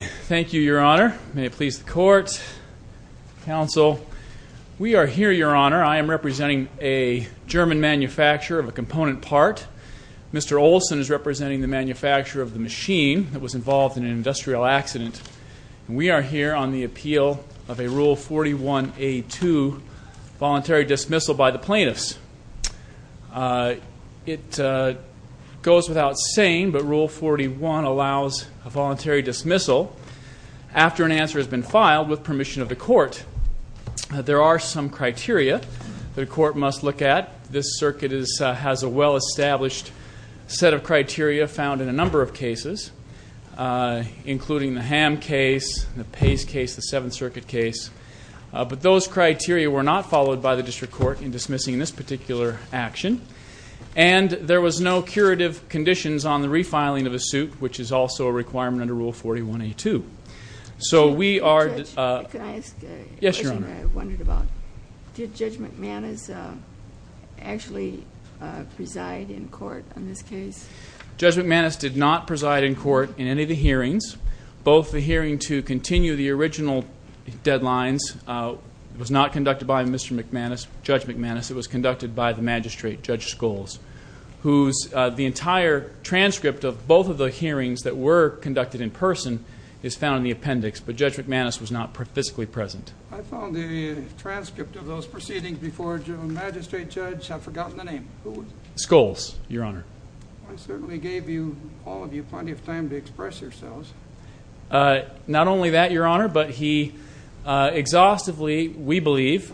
Thank you, Your Honor. May it please the Court, Counsel. We are here, Your Honor. I am representing a German manufacturer of a component part. Mr. Olson is representing the manufacturer of the machine that was involved in an industrial accident. We are here on the appeal of a Rule 41A2, voluntary dismissal by the plaintiffs. It goes without saying, but Rule 41 allows a voluntary dismissal after an answer has been filed with permission of the Court. There are some criteria that a court must look at. This circuit has a well-established set of criteria found in a number of cases, including the Ham case, the Pace case, the Seventh Circuit case. But those criteria were not followed by the District Court in dismissing this particular action. And there was no curative conditions on the refiling of a suit, which is also a requirement under Rule 41A2. So we are... Judge, can I ask a question I wondered about? Yes, Your Honor. Did Judge McManus actually preside in court in this case? Judge McManus did not preside in court in any of the hearings. Both the hearing to continue the original deadlines was not conducted by Mr. McManus, Judge McManus. It was conducted by the magistrate, Judge Scholes, whose... the entire transcript of both of the hearings that were conducted in person is found in the appendix. But Judge McManus was not physically present. I found the transcript of those proceedings before the magistrate judge. I've forgotten the name. Who was it? Scholes, Your Honor. I certainly gave you, all of you, plenty of time to express yourselves. Not only that, Your Honor, but he exhaustively, we believe,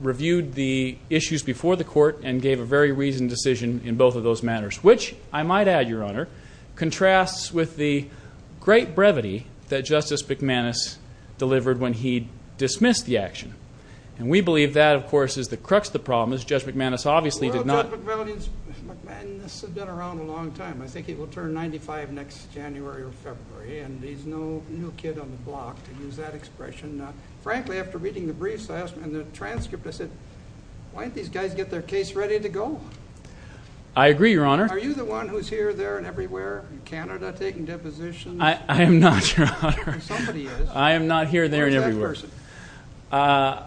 reviewed the issues before the court and gave a very reasoned decision in both of those matters, which, I might add, Your Honor, contrasts with the great brevity that Justice McManus delivered when he dismissed the action. And we believe that, of course, is the crux of the problem, as Judge McManus obviously did not... Well, Judge McManus has been around a long time. I think he will turn 95 next January or February, and he's no kid on the block to use that expression. Frankly, after reading the briefs and the transcript, I said, why don't these guys get their case ready to go? I agree, Your Honor. Are you the one who's here, there, and everywhere in Canada taking depositions? I am not, Your Honor. Somebody is. I am not here, there, and everywhere. Where's that person?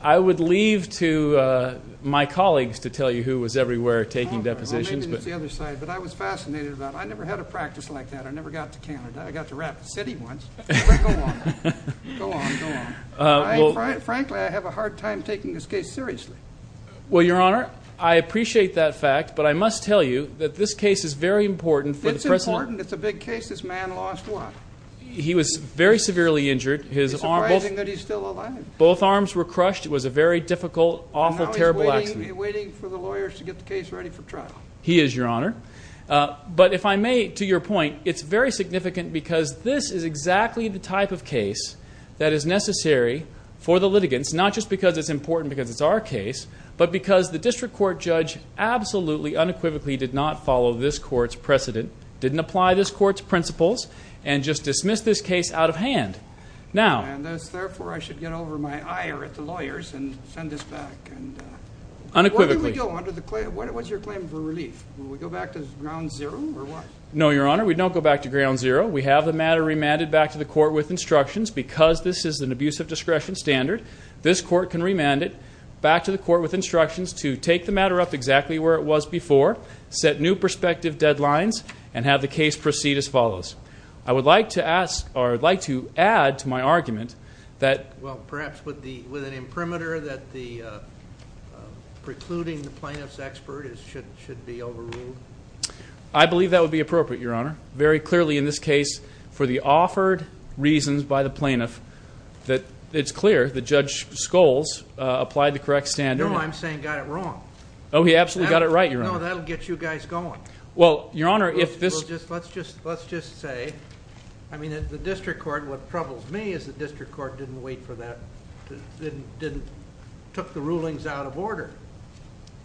I would leave to my colleagues to tell you who was everywhere taking depositions. Well, maybe it's the other side, but I was fascinated about it. I never had a practice like that. I never got to Canada. I got to Rapid City once. Go on. Go on. Go on. Frankly, I have a hard time taking this case seriously. Well, Your Honor, I appreciate that fact, but I must tell you that this case is very important for the President... It's important. It's a big case. This man lost what? He was very severely injured. It's surprising that he's still alive. Both arms were crushed. It was a very difficult, awful, terrible accident. Are you waiting for the lawyers to get the case ready for trial? He is, Your Honor. But if I may, to your point, it's very significant because this is exactly the type of case that is necessary for the litigants, not just because it's important because it's our case, but because the district court judge absolutely, unequivocally did not follow this court's precedent, didn't apply this court's principles, and just dismissed this case out of hand. Now... And therefore, I should get over my ire at the lawyers and send this back. Unequivocally. Where do we go? What's your claim for relief? Do we go back to ground zero or what? No, Your Honor. We don't go back to ground zero. We have the matter remanded back to the court with instructions. Because this is an abuse of discretion standard, this court can remand it back to the court with instructions to take the matter up exactly where it was before, set new prospective deadlines, and have the case proceed as follows. I would like to ask... or I'd like to add to my argument that... Well, perhaps with an imprimatur that the precluding the plaintiff's expert should be overruled? I believe that would be appropriate, Your Honor. Very clearly in this case, for the offered reasons by the plaintiff, that it's clear that Judge Scholes applied the correct standard. No, I'm saying got it wrong. Oh, he absolutely got it right, Your Honor. No, that'll get you guys going. Well, Your Honor, if this... Let's just say, I mean, the district court... what troubles me is the district court didn't wait for that... didn't... took the rulings out of order.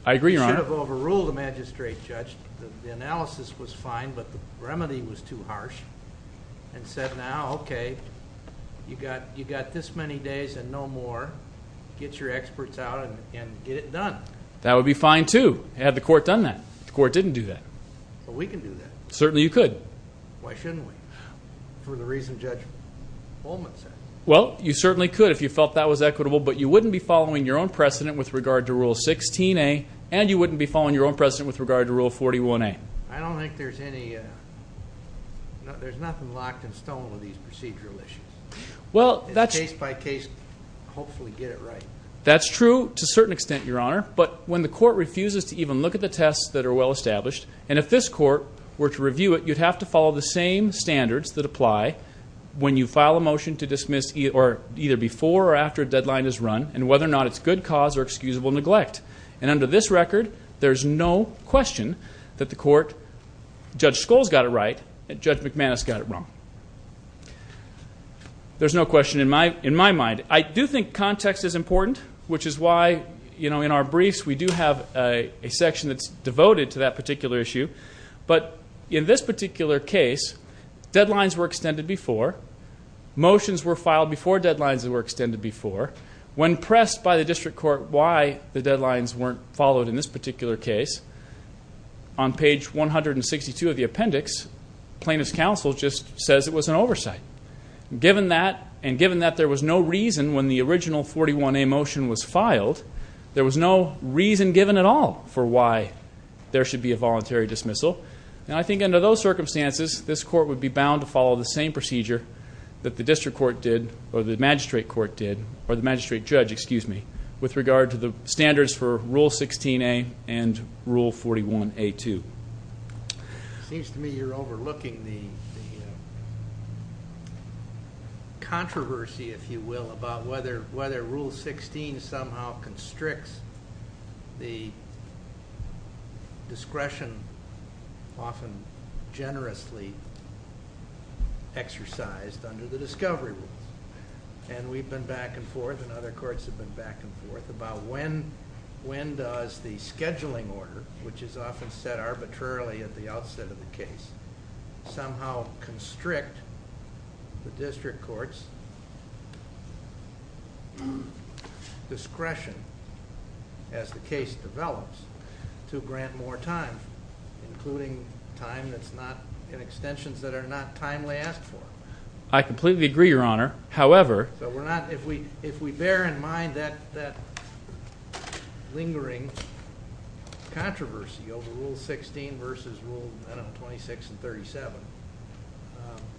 I agree, Your Honor. You should have overruled the magistrate, Judge. The analysis was fine, but the remedy was too harsh, and said, now, okay, you got... you got this many days and no more. Get your experts out and get it done. That would be fine, too, had the court done that. The court didn't do that. But we can do that. Certainly you could. Why shouldn't we? For the reason Judge Vollman said. Well, you certainly could if you felt that was equitable, but you wouldn't be following your own precedent with regard to Rule 16a, and you wouldn't be following your own precedent with regard to Rule 41a. I don't think there's any... there's nothing locked in stone with these procedural issues. Well, that's... Case by case, hopefully get it right. That's true to a certain extent, Your Honor, but when the court refuses to even look at the tests that are well established, and if this court were to review it, you'd have to follow the same standards that apply when you file a motion to dismiss, or either before or after a deadline is run, and whether or not it's good cause or excusable neglect. And under this record, there's no question that the court... Judge Scholl's got it right, and Judge McManus got it wrong. There's no question in my... in my mind. I do think context is important, which is why, you know, in our briefs, we do have a section that's devoted to that particular issue, but in this particular case, deadlines were extended before, motions were filed before deadlines were extended before. When pressed by the district court why the deadlines weren't followed in this particular case, on page 162 of the appendix, plaintiff's counsel just says it was an oversight. Given that, and given that there was no reason when the original 41a motion was filed, there was no reason given at all for why there should be a voluntary dismissal, and I think under those circumstances, this court would be bound to follow the same procedure that the district court did, or the magistrate court did, or the magistrate judge, excuse me, with regard to the standards for Rule 16a and Rule 41a2. It seems to me you're overlooking the controversy, if you will, about whether Rule 16 somehow constricts the discretion often generously exercised under the discovery rules, and we've been back and forth, and other courts have been back and forth about when does the scheduling order, which is often set arbitrarily at the outset of the case, somehow constrict the district court's discretion as the case develops to grant more time, including time that's not in extensions that are not timely asked for. I completely agree, your honor, however, so we're not, if we bear in mind that lingering controversy over Rule 16 versus Rule 26 and 37,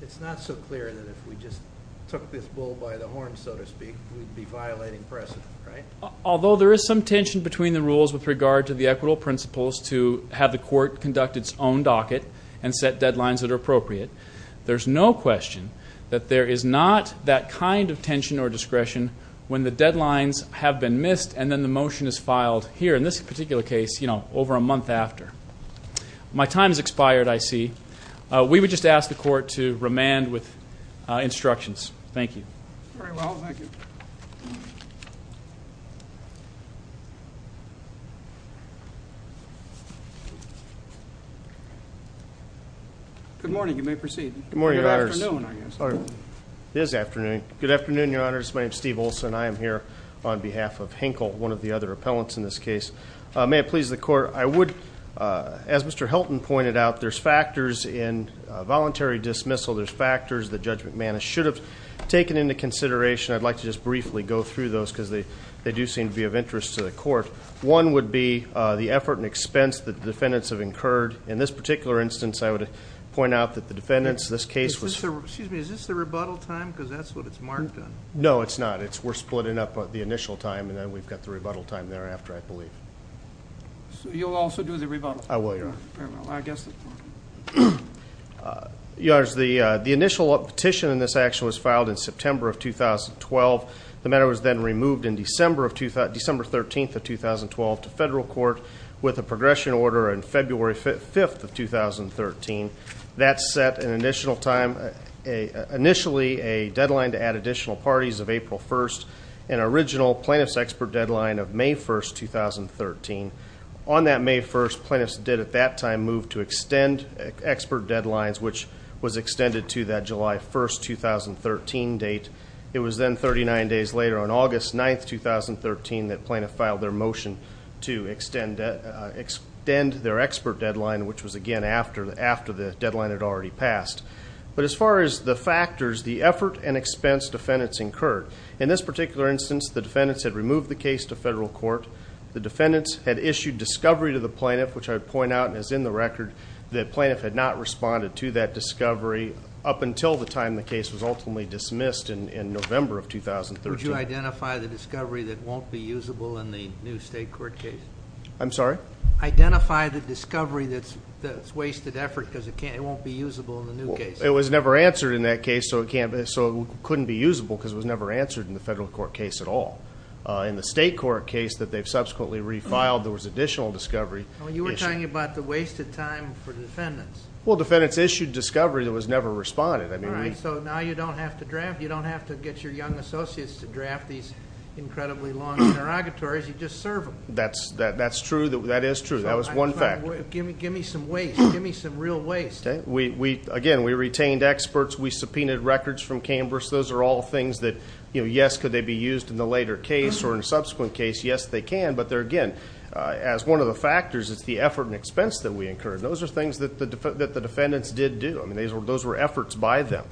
it's not so clear that if we just took this bull by the horn, so to speak, we'd be violating precedent, right? Although there is some tension between the rules with regard to the equitable principles to have the court conduct its own docket and set deadlines that are appropriate, there's no question that there is not that kind of tension or discretion when the deadlines have been missed and then the motion is filed here, in this particular case, you know, over a month after. My time has expired, I see. We would just ask the court to remand with instructions. Thank you. Very well, thank you. Good morning, you may proceed. Good morning, your honors. Good afternoon, I guess. It is afternoon. Good afternoon, your honors. My name is Steve Olson. I am here on behalf of Henkel, one of the other appellants in this case. May it please the court, I would, as Mr. Helton pointed out, there's factors in voluntary dismissal, there's factors that Judge McManus should have taken into consideration. I'd like to just briefly go through those because they they do seem to be of interest to the court. One would be the effort and expense that the defendants have incurred. In this particular instance, I would point out that the defendants, this case was... Excuse me, is this the rebuttal time? Because that's what it's marked on. No, it's not. We're splitting up the initial time and then we've got the rebuttal time thereafter, I believe. So you'll also do the rebuttal? I will, your honor. Very well, I guess. Your honors, the initial petition in this action was filed in September of 2012. The matter was then removed in December 13th of 2012 to federal court with a progression order on February 5th of 2013. That set an initial time, initially a deadline to add additional parties of April 1st and original plaintiff's expert deadline of May 1st, 2013. On that May 1st, plaintiffs did at that time move to extend expert deadlines, which was extended to that July 1st, 2013 date. It was then 39 days later on August 9th, 2013 that plaintiff filed their motion to extend their expert deadline, which was again after the deadline had already passed. But as far as the factors, the effort and expense defendants incurred. In this particular instance, the defendants had removed the case to federal court. The defendants had issued discovery to the record that plaintiff had not responded to that discovery up until the time the case was ultimately dismissed in November of 2013. Would you identify the discovery that won't be usable in the new state court case? I'm sorry? Identify the discovery that's wasted effort because it won't be usable in the new case. It was never answered in that case, so it couldn't be usable because it was never answered in the federal court case at all. In the state court case that they've subsequently refiled, there was additional discovery. You were talking about the wasted time for the defendants. Well, defendants issued discovery that was never responded. All right, so now you don't have to draft. You don't have to get your young associates to draft these incredibly long interrogatories. You just serve them. That's true. That is true. That was one fact. Give me some waste. Give me some real waste. Again, we retained experts. We subpoenaed records from Canberra. Those are all things that, yes, could they be used in the later case or in a but they're, again, as one of the factors, it's the effort and expense that we incurred. Those are things that the defendants did do. Those were efforts by them.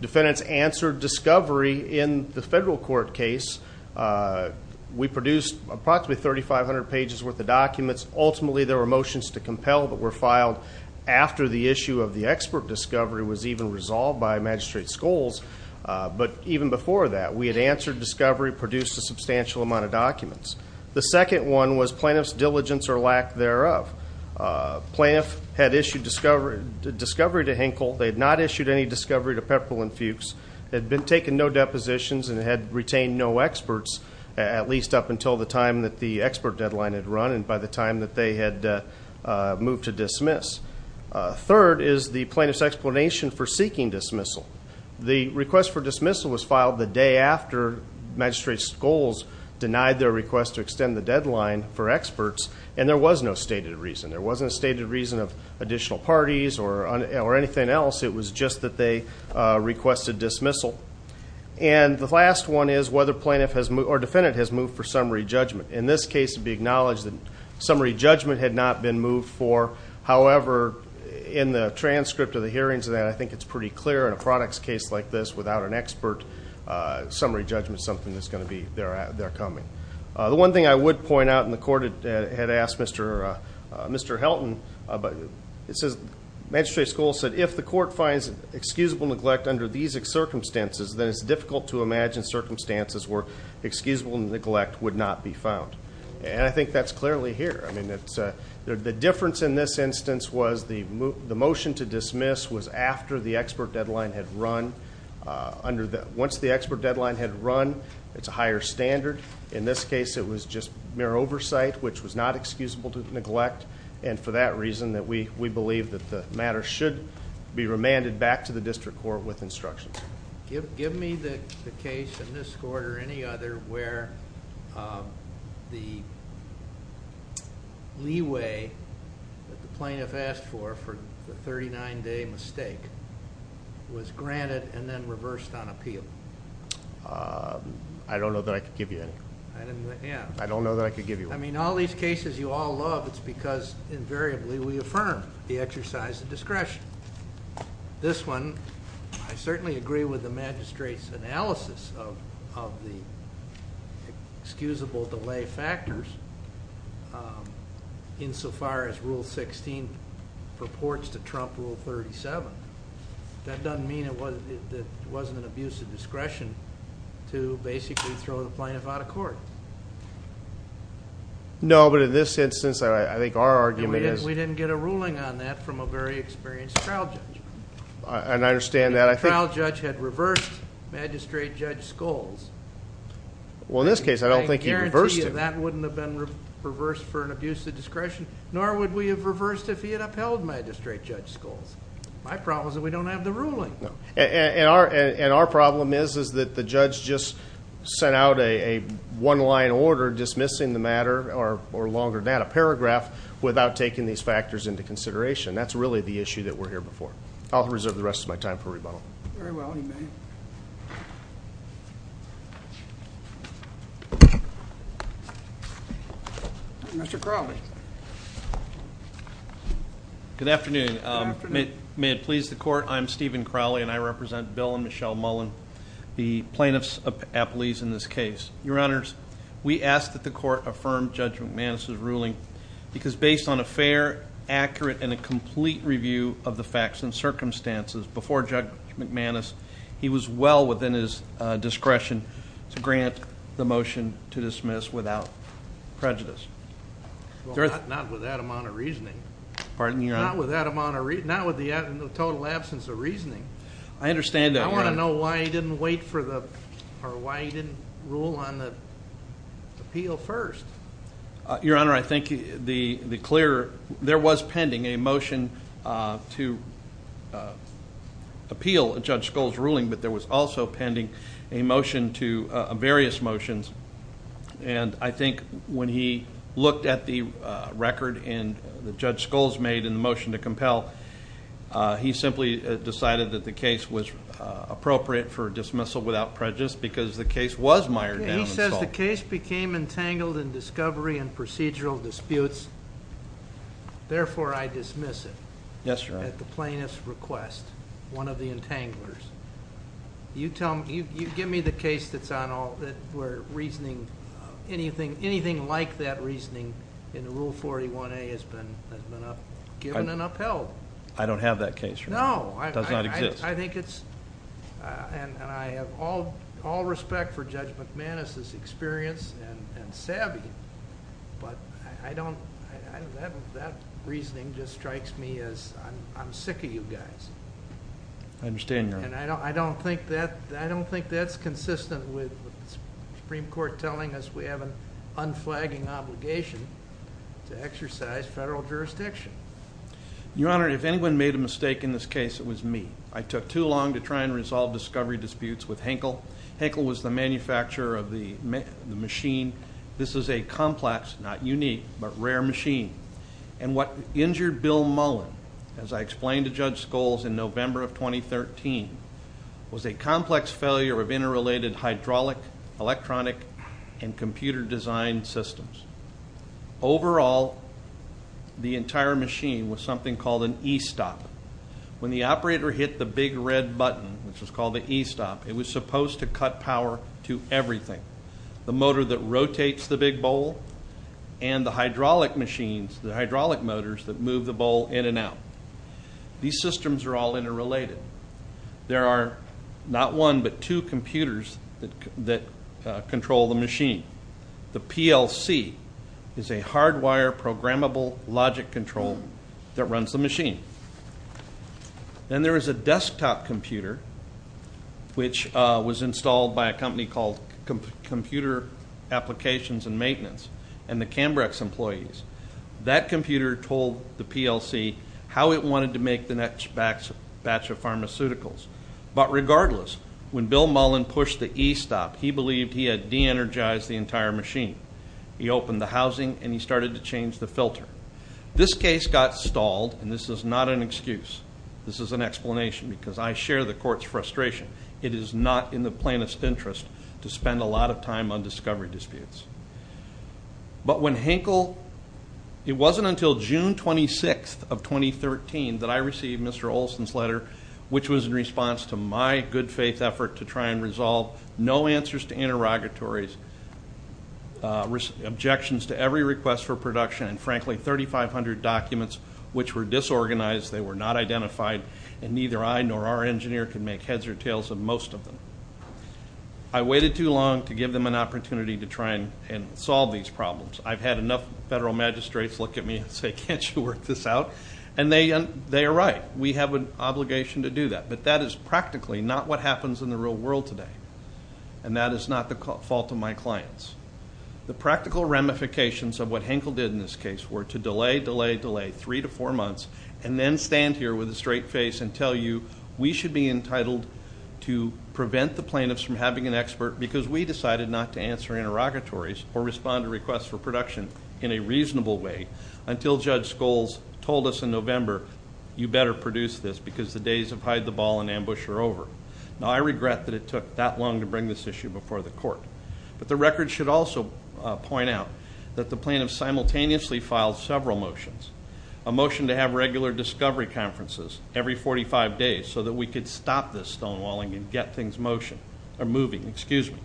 Defendants answered discovery in the federal court case. We produced approximately 3,500 pages worth of documents. Ultimately, there were motions to compel that were filed after the issue of the expert discovery was even resolved by Magistrate Scholes, but even before that, we had answered discovery, produced a substantial amount of documents. The second one was plaintiff's diligence or lack thereof. Plaintiff had issued discovery to Hinkle. They had not issued any discovery to Pepperle and Fuchs. They had taken no depositions and had retained no experts, at least up until the time that the expert deadline had run and by the time that they had moved to dismiss. Third is the plaintiff's explanation for seeking dismissal. The request for dismissal was filed the day after Magistrate Scholes denied their request to extend the deadline for experts, and there was no stated reason. There wasn't a stated reason of additional parties or anything else. It was just that they requested dismissal. The last one is whether plaintiff or defendant has moved for summary judgment. In this case, it would be acknowledged that summary judgment had not been moved for. However, in the transcript of the hearings, I think it's pretty clear in a products case like this, without an expert, summary judgment is something that's going to be there coming. The one thing I would point out, and the court had asked Mr. Helton, but Magistrate Scholes said, if the court finds excusable neglect under these circumstances, then it's difficult to imagine circumstances where excusable neglect would not be found. And I think that's clearly here. The difference in this instance was the motion to dismiss was after the expert deadline had run. Once the expert deadline had run, it's a higher standard. In this case, it was just mere oversight, which was not excusable to neglect. And for that reason, we believe that the matter should be remanded back to the district court with instructions. Give me the case in this court or any other where the leeway that the plaintiff asked for, for the 39-day mistake, was granted and then reversed on appeal. I don't know that I could give you any. I don't know that I could give you any. I mean, all these cases you all love, it's because invariably we affirm the exercise of discretion. This one, I certainly agree with the magistrate's analysis of the excusable delay factors insofar as Rule 16 purports to trump Rule 37. That doesn't mean that it wasn't an abuse of discretion to basically throw the plaintiff out of court. No, but in this instance, I think our argument is... We didn't get a ruling on that from a very experienced trial judge. And I understand that. The trial judge had reversed Magistrate Judge Scholes. That wouldn't have been reversed for an abuse of discretion, nor would we have reversed if he had upheld Magistrate Judge Scholes. My problem is that we don't have the ruling. And our problem is that the judge just sent out a one-line order dismissing the matter, or longer than that, a paragraph without taking these factors into consideration. That's really the issue that we're here before. I'll reserve the rest of my time for rebuttal. Very well, you may. Mr. Crowley. Good afternoon. Good afternoon. May it please the court, I'm Stephen Crowley, and I represent Bill and Michelle Mullen, the plaintiffs' appellees in this case. Your honors, we ask that the court affirm Judge McManus's ruling, because based on a fair, accurate, and a complete review of the facts and circumstances before Judge McManus, he was well within his discretion to grant the motion to dismiss without prejudice. Not with that amount of reasoning. Not with the total absence of reasoning. I understand that. I want to know why he didn't wait for the, or why he didn't rule on the appeal first. Your honor, I think the clear, there was pending a motion to appeal Judge Skoll's ruling, but there was also pending a motion to, various motions. And I think when he looked at the record and that Judge Skoll's made in the motion to compel, he simply decided that the case was appropriate for dismissal without prejudice, because the case was mired down. The case became entangled in discovery and procedural disputes. Therefore, I dismiss it. Yes, your honor. At the plaintiff's request. One of the entanglers. You tell me, you give me the case that's on all, that we're reasoning, anything like that reasoning in Rule 41A has been given and upheld. I don't have that case. No. Does not exist. I think it's, and I have all respect for Judge McManus's experience and savvy, but I don't, that reasoning just strikes me as, I'm sick of you guys. I understand your honor. And I don't think that's consistent with the Supreme Court telling us we have an unflagging obligation to exercise federal jurisdiction. Your honor, if anyone made a mistake in this case, it was me. I took too long to try and resolve discovery disputes with Henkel. Henkel was the manufacturer of the machine. This is a complex, not unique, but rare machine. And what injured Bill Mullen, as I explained to Judge Scholes in November of 2013, was a complex failure of interrelated hydraulic, electronic, and computer design systems. Overall, the entire machine was something called an E-stop. When the operator hit the big red button, which was called the E-stop, it was supposed to cut power to everything. The motor that rotates the big bowl and the hydraulic machines, the hydraulic motors that move the bowl in and out. These systems are all interrelated. There are not one, but two computers that control the machine. The PLC is a hardwire programmable logic control that runs the machine. Then there is a desktop computer, which was installed by a company called Computer Applications and Maintenance and the Cambrex employees. That computer told the PLC how it wanted to make the next batch of pharmaceuticals. But regardless, when Bill Mullen pushed the E-stop, he believed he had de-energized the entire machine. This case got stalled and this is not an excuse. This is an explanation because I share the court's frustration. It is not in the plaintiff's interest to spend a lot of time on discovery disputes. But when Henkel, it wasn't until June 26th of 2013 that I received Mr. Olson's letter, which was in response to my good faith effort to try and resolve no answers to interrogatories, objections to every request for production, and frankly 3,500 documents which were disorganized. They were not identified and neither I nor our engineer could make heads or tails of most of them. I waited too long to give them an opportunity to try and solve these problems. I've had enough federal magistrates look at me and say, can't you work this out? And they are right. We have an obligation to do that. But that is practically not what happens in the real world today. And that is not the fault of my clients. The practical ramifications of what Henkel did in this case were to delay, delay, delay, three to four months, and then stand here with a straight face and tell you, we should be entitled to prevent the plaintiffs from having an expert because we decided not to answer interrogatories or respond to requests for production in a reasonable way until Judge Scholes told us in November, you better produce this because the days of hide the ball and ambush are over. Now I regret that it took that long to bring this issue before the court. But the record should also point out that the plaintiff simultaneously filed several motions. A motion to have regular discovery conferences every 45 days so that we could stop this stonewalling and get things motion, or moving, excuse me.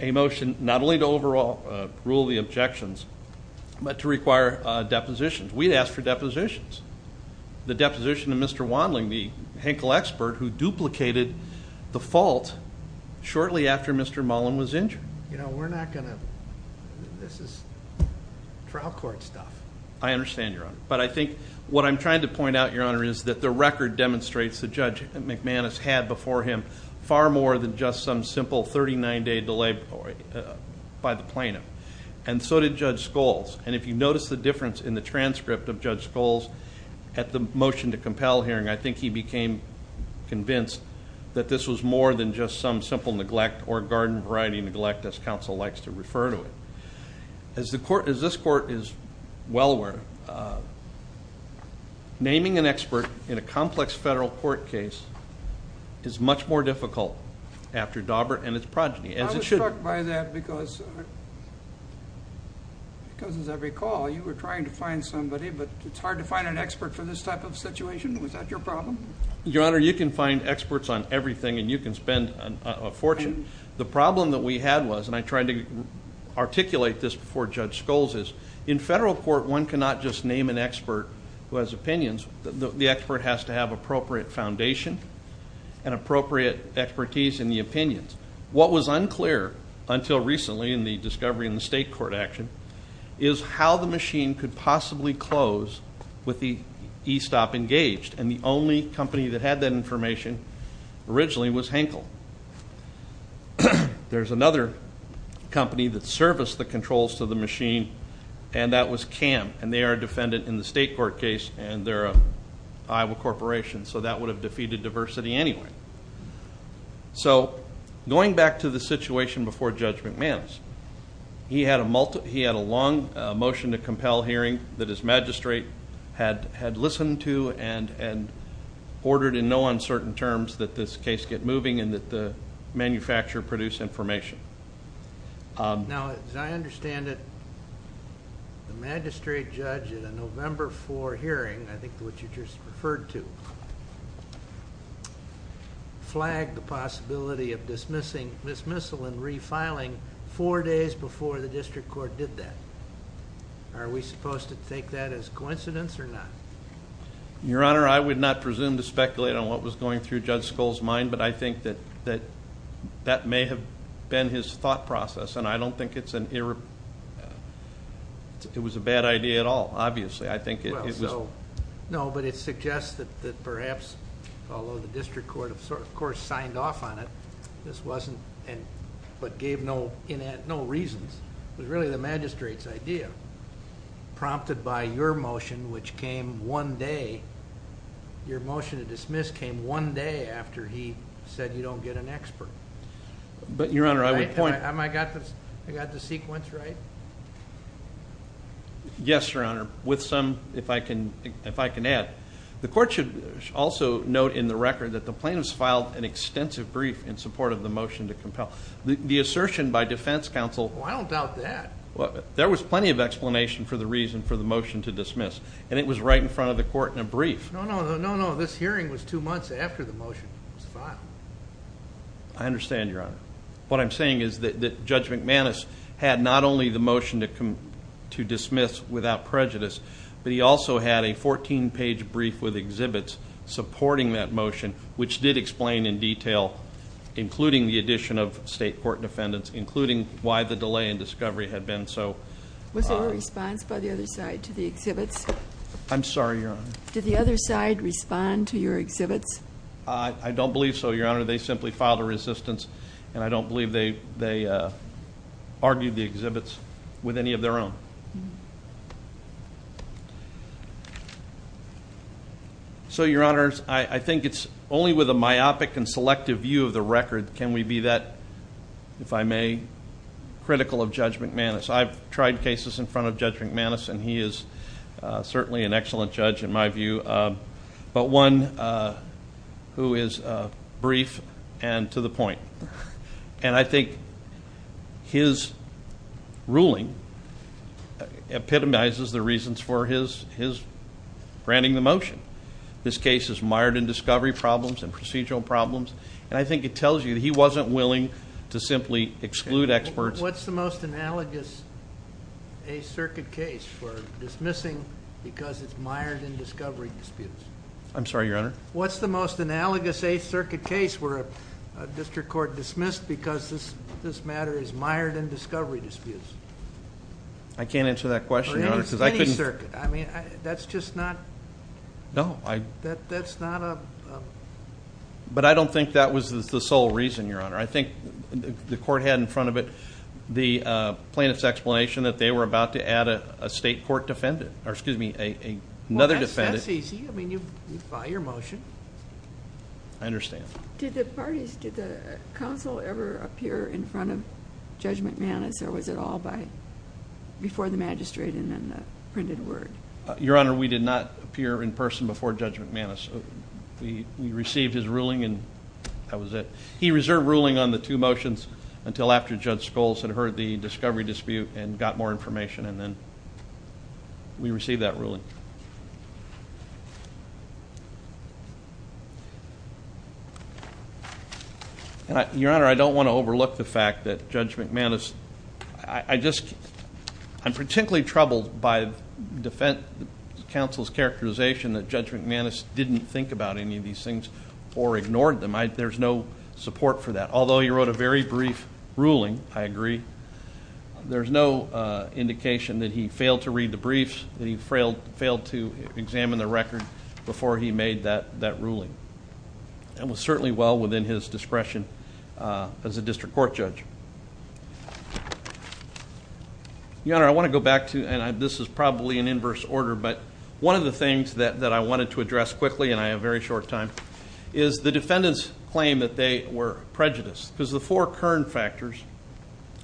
A motion not only to overall rule the objections, but to require depositions. We'd asked for depositions. The deposition of Mr. Wandling, the Henkel expert who duplicated the fault shortly after Mr. Mullen was injured. You know, we're not going to, this is trial court stuff. I understand, Your Honor. But I think what I'm trying to point out, Your Honor, is that the record demonstrates that Judge McManus had before him far more than just some simple 39-day delay by the plaintiff. And so did Judge Scholes. And if you notice the difference in the transcript of Judge Scholes at the motion to compel hearing, I think he became convinced that this was more than just some simple neglect or garden variety neglect, as counsel likes to refer to it. As this court is well aware, naming an expert in a complex federal court case is much more difficult after Daubert and his progeny. I was struck by that because, as I recall, you were trying to find somebody, but it's hard to find an expert for this type of situation. Was that your problem? Your Honor, you can find experts on everything, and you can spend a fortune. The problem that we had was, and I tried to articulate this before Judge Scholes, is in federal court, one cannot just name an expert who has opinions. The expert has to have appropriate foundation and appropriate expertise in the opinions. What was unclear until recently in the discovery in the state court action is how the machine could possibly close with the E-stop engaged. And the only company that had that information originally was Henkel. There's another company that serviced the controls to the machine, and that was CAM. And they are a defendant in the state court case, and they're an Iowa corporation. So that would have defeated diversity anyway. So going back to the situation before Judge McMahons, he had a long motion to compel hearing that his magistrate had listened to and ordered in no uncertain terms that this case get moving and that the manufacturer produce information. Now, as I understand it, the magistrate judge at a November 4 hearing, I think what you just referred to, flagged the possibility of dismissal and refiling four days before the district court did that. Are we supposed to take that as coincidence or not? Your Honor, I would not presume to speculate on what was going through Judge Scholes' mind, but I think that that may have been his thought process. And I don't think it was a bad idea at all, obviously. Well, no, but it suggests that perhaps, although the district court, of course, signed off on it, this wasn't, but gave no reasons. It was really the magistrate's idea, prompted by your motion, which came one day. Your motion to dismiss came one day after he said you don't get an expert. But, Your Honor, I would point- I got the sequence right? Yes, Your Honor, with some, if I can add. The court should also note in the record that the plaintiffs filed an extensive brief in support of the motion to compel. The assertion by defense counsel- Well, I don't doubt that. Well, there was plenty of explanation for the reason for the motion to dismiss, and it was right in front of the court in a brief. No, no, no, no, no. This hearing was two months after the motion was filed. I understand, Your Honor. What I'm saying is that Judge McManus had not only the motion to dismiss without prejudice, but he also had a 14-page brief with exhibits supporting that motion, which did explain in detail, including the addition of state court defendants, including why the delay in discovery had been so- Was there a response by the other side to the exhibits? I'm sorry, Your Honor. Did the other side respond to your exhibits? I don't believe so, Your Honor. They simply filed a resistance, and I don't believe they argued the exhibits with any of their own. So, Your Honors, I think it's only with a myopic and selective view of the record can we be that, if I may, critical of Judge McManus. I've tried cases in front of Judge McManus, and he is certainly an excellent judge in my view. But one who is brief and to the point. And I think his ruling epitomizes the reasons for his granting the motion. This case is mired in discovery problems and procedural problems, and I think it tells you that he wasn't willing to simply exclude experts- What's the most analogous Eighth Circuit case for dismissing because it's mired in discovery disputes? I'm sorry, Your Honor. What's the most analogous Eighth Circuit case where a district court dismissed because this matter is mired in discovery disputes? I can't answer that question, Your Honor, because I couldn't- Or any circuit. I mean, that's just not- No, I- That's not a- But I don't think that was the sole reason, Your Honor. I think the court had in front of it the plaintiff's explanation that they were about to add a state court defendant, or excuse me, another defendant- Well, that's easy. I mean, you buy your motion. I understand. Did the parties, did the counsel ever appear in front of Judge McManus, or was it all before the magistrate and then the printed word? Your Honor, we did not appear in person before Judge McManus. We received his ruling, and that was it. He reserved ruling on the two motions until after Judge Scholes had heard the discovery dispute and got more information, and then we received that ruling. Your Honor, I don't want to overlook the fact that Judge McManus- I'm particularly troubled by defense counsel's characterization that Judge McManus didn't think about any of these things or ignored them. There's no support for that. Although he wrote a very brief ruling, I agree, there's no indication that he failed to read the briefs, that he failed to examine the record before he made that ruling. That was certainly well within his discretion as a district court judge. Your Honor, I want to go back to, and this is probably an inverse order, but one of the things that I wanted to address quickly, and I have very short time, is the defendant's claim that they were prejudiced, because the four current factors,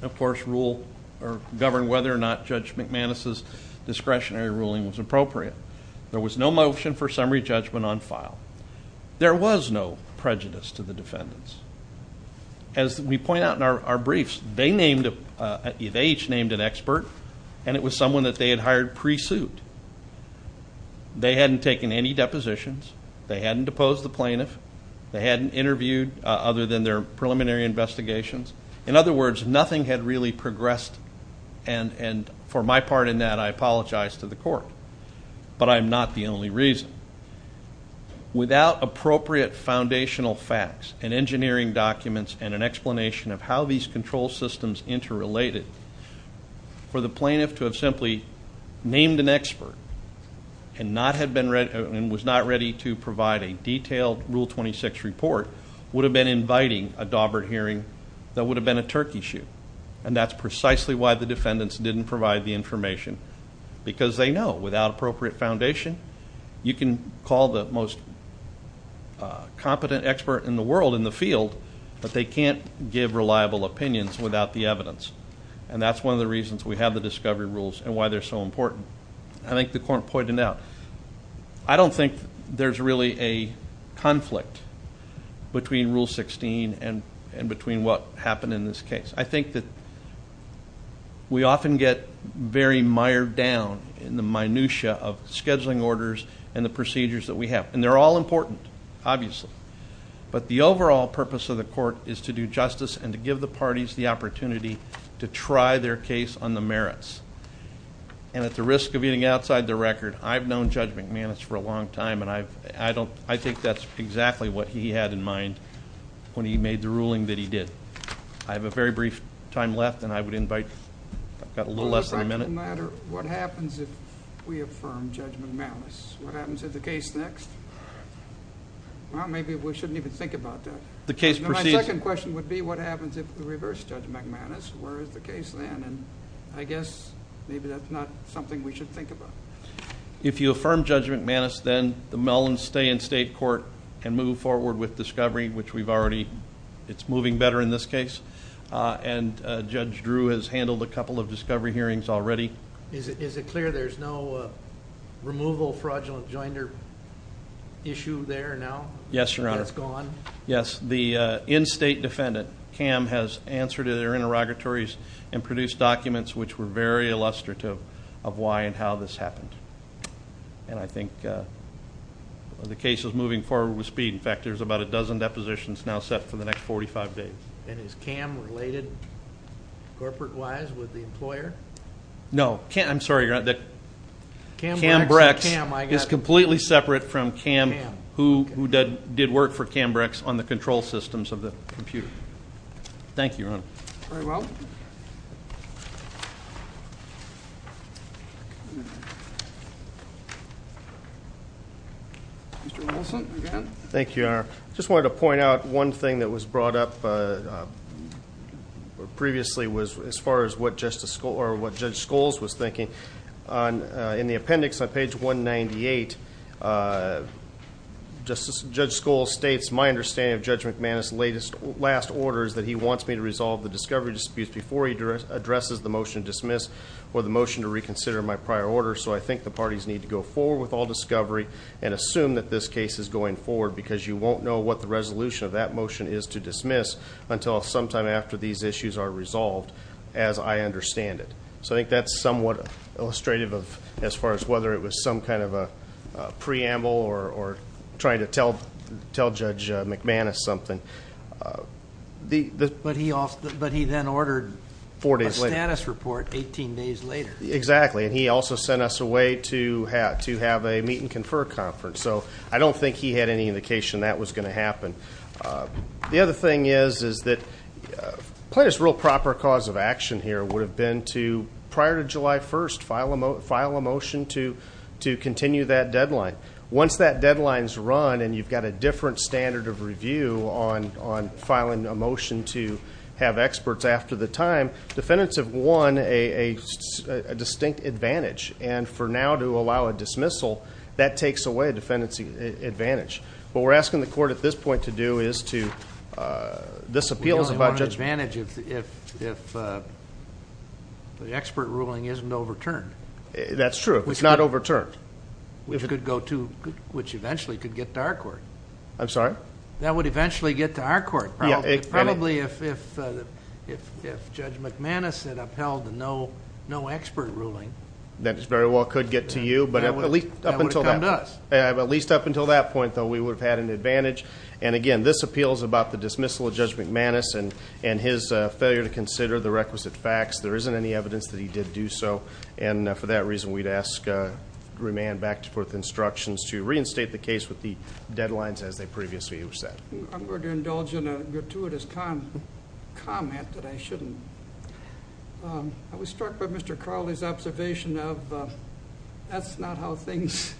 of course, rule or govern whether or not Judge McManus' discretionary ruling was appropriate. There was no motion for summary judgment on file. There was no prejudice to the defendants. As we point out in our briefs, they each named an expert, and it was someone that they had hired pre-suit. They hadn't taken any depositions. They hadn't deposed the plaintiff. They hadn't interviewed other than their preliminary investigations. In other words, nothing had really progressed, and for my part in that, I apologize to the court, but I'm not the only reason. Without appropriate foundational facts and engineering documents and an explanation of how these control systems interrelated, for the plaintiff to have simply named an expert, and was not ready to provide a detailed rule 26 report, would have been inviting a Daubert hearing that would have been a turkey shoot. And that's precisely why the defendants didn't provide the information, because they know without appropriate foundation, you can call the most competent expert in the world in the field, but they can't give reliable opinions without the evidence. And that's one of the reasons we have the discovery rules and why they're so important. I think the court pointed out, I don't think there's really a conflict between rule 16 and between what happened in this case. I think that we often get very mired down in the minutia of scheduling orders and the procedures that we have, and they're all important, obviously. But the overall purpose of the court is to do justice and to give the parties the opportunity to try their case on the merits. And at the risk of getting outside the record, I've known Judge McManus for a long time, and I think that's exactly what he had in mind when he made the ruling that he did. I have a very brief time left, and I would invite, I've got a little less than a minute. It doesn't matter what happens if we affirm Judge McManus. What happens to the case next? Well, maybe we shouldn't even think about that. The case proceeds. My second question would be, what happens if we reverse Judge McManus? Where is the case then? I guess maybe that's not something we should think about. If you affirm Judge McManus, then the Mellons stay in state court and move forward with discovery, which we've already, it's moving better in this case. And Judge Drew has handled a couple of discovery hearings already. Is it clear there's no removal fraudulent joinder issue there now? Yes, Your Honor. That's gone? Yes. The in-state defendant, Cam, has answered to their interrogatories and produced documents which were very illustrative of why and how this happened. And I think the case is moving forward with speed. In fact, there's about a dozen depositions now set for the next 45 days. And is Cam related, corporate-wise, with the employer? No. I'm sorry, Your Honor. Cam Brecks is completely separate from Cam, who did work for Cam Brecks on the control systems of the computer. Thank you, Your Honor. Very well. Mr. Nicholson, again. Thank you, Your Honor. I just wanted to point out one thing that was brought up previously as far as what Judge Scholes was thinking. On the appendix on page 198, Judge Scholes states, My understanding of Judge McManus' last order is that he wants me to resolve the discovery disputes before he addresses the motion to dismiss or the motion to reconsider my prior order. So I think the parties need to go forward with all discovery and assume that this case is going forward, because you won't know what the resolution of that motion is to dismiss until sometime after these issues are resolved, as I understand it. So I think that's somewhat illustrative as far as whether it was some kind of a preamble or trying to tell Judge McManus something. But he then ordered a status report 18 days later. Exactly. And he also sent us away to have a meet and confer conference. So I don't think he had any indication that was going to happen. The other thing is that, probably the real proper cause of action here would have been to, prior to July 1st, file a motion to continue that deadline. Once that deadline's run and you've got a different standard of review on filing a motion to have experts after the time, defendants have won a distinct advantage. And for now to allow a dismissal, that takes away a defendant's advantage. What we're asking the court at this point to do is to, this appeals about Judge... We only want an advantage if the expert ruling isn't overturned. That's true, if it's not overturned. Which eventually could get to our court. I'm sorry? That would eventually get to our court. Yeah. Probably if Judge McManus had upheld the no expert ruling... That very well could get to you. That would have come to us. At least up until that point, though, we would have had an advantage. And again, this appeals about the dismissal of Judge McManus and his failure to consider the requisite facts. There isn't any evidence that he did do so. And for that reason, we'd ask remand back to forth instructions to reinstate the case with the deadlines as they previously were set. I'm going to indulge in a gratuitous comment that I shouldn't. I was struck by Mr. Crowley's observation of that's not how things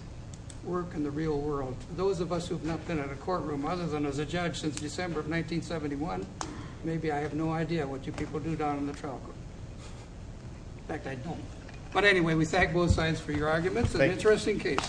work in the real world. Those of us who have not been in a courtroom other than as a judge since December of 1971, maybe I have no idea what you people do down in the trial court. In fact, I don't. But anyway, we thank both sides for your arguments. An interesting case.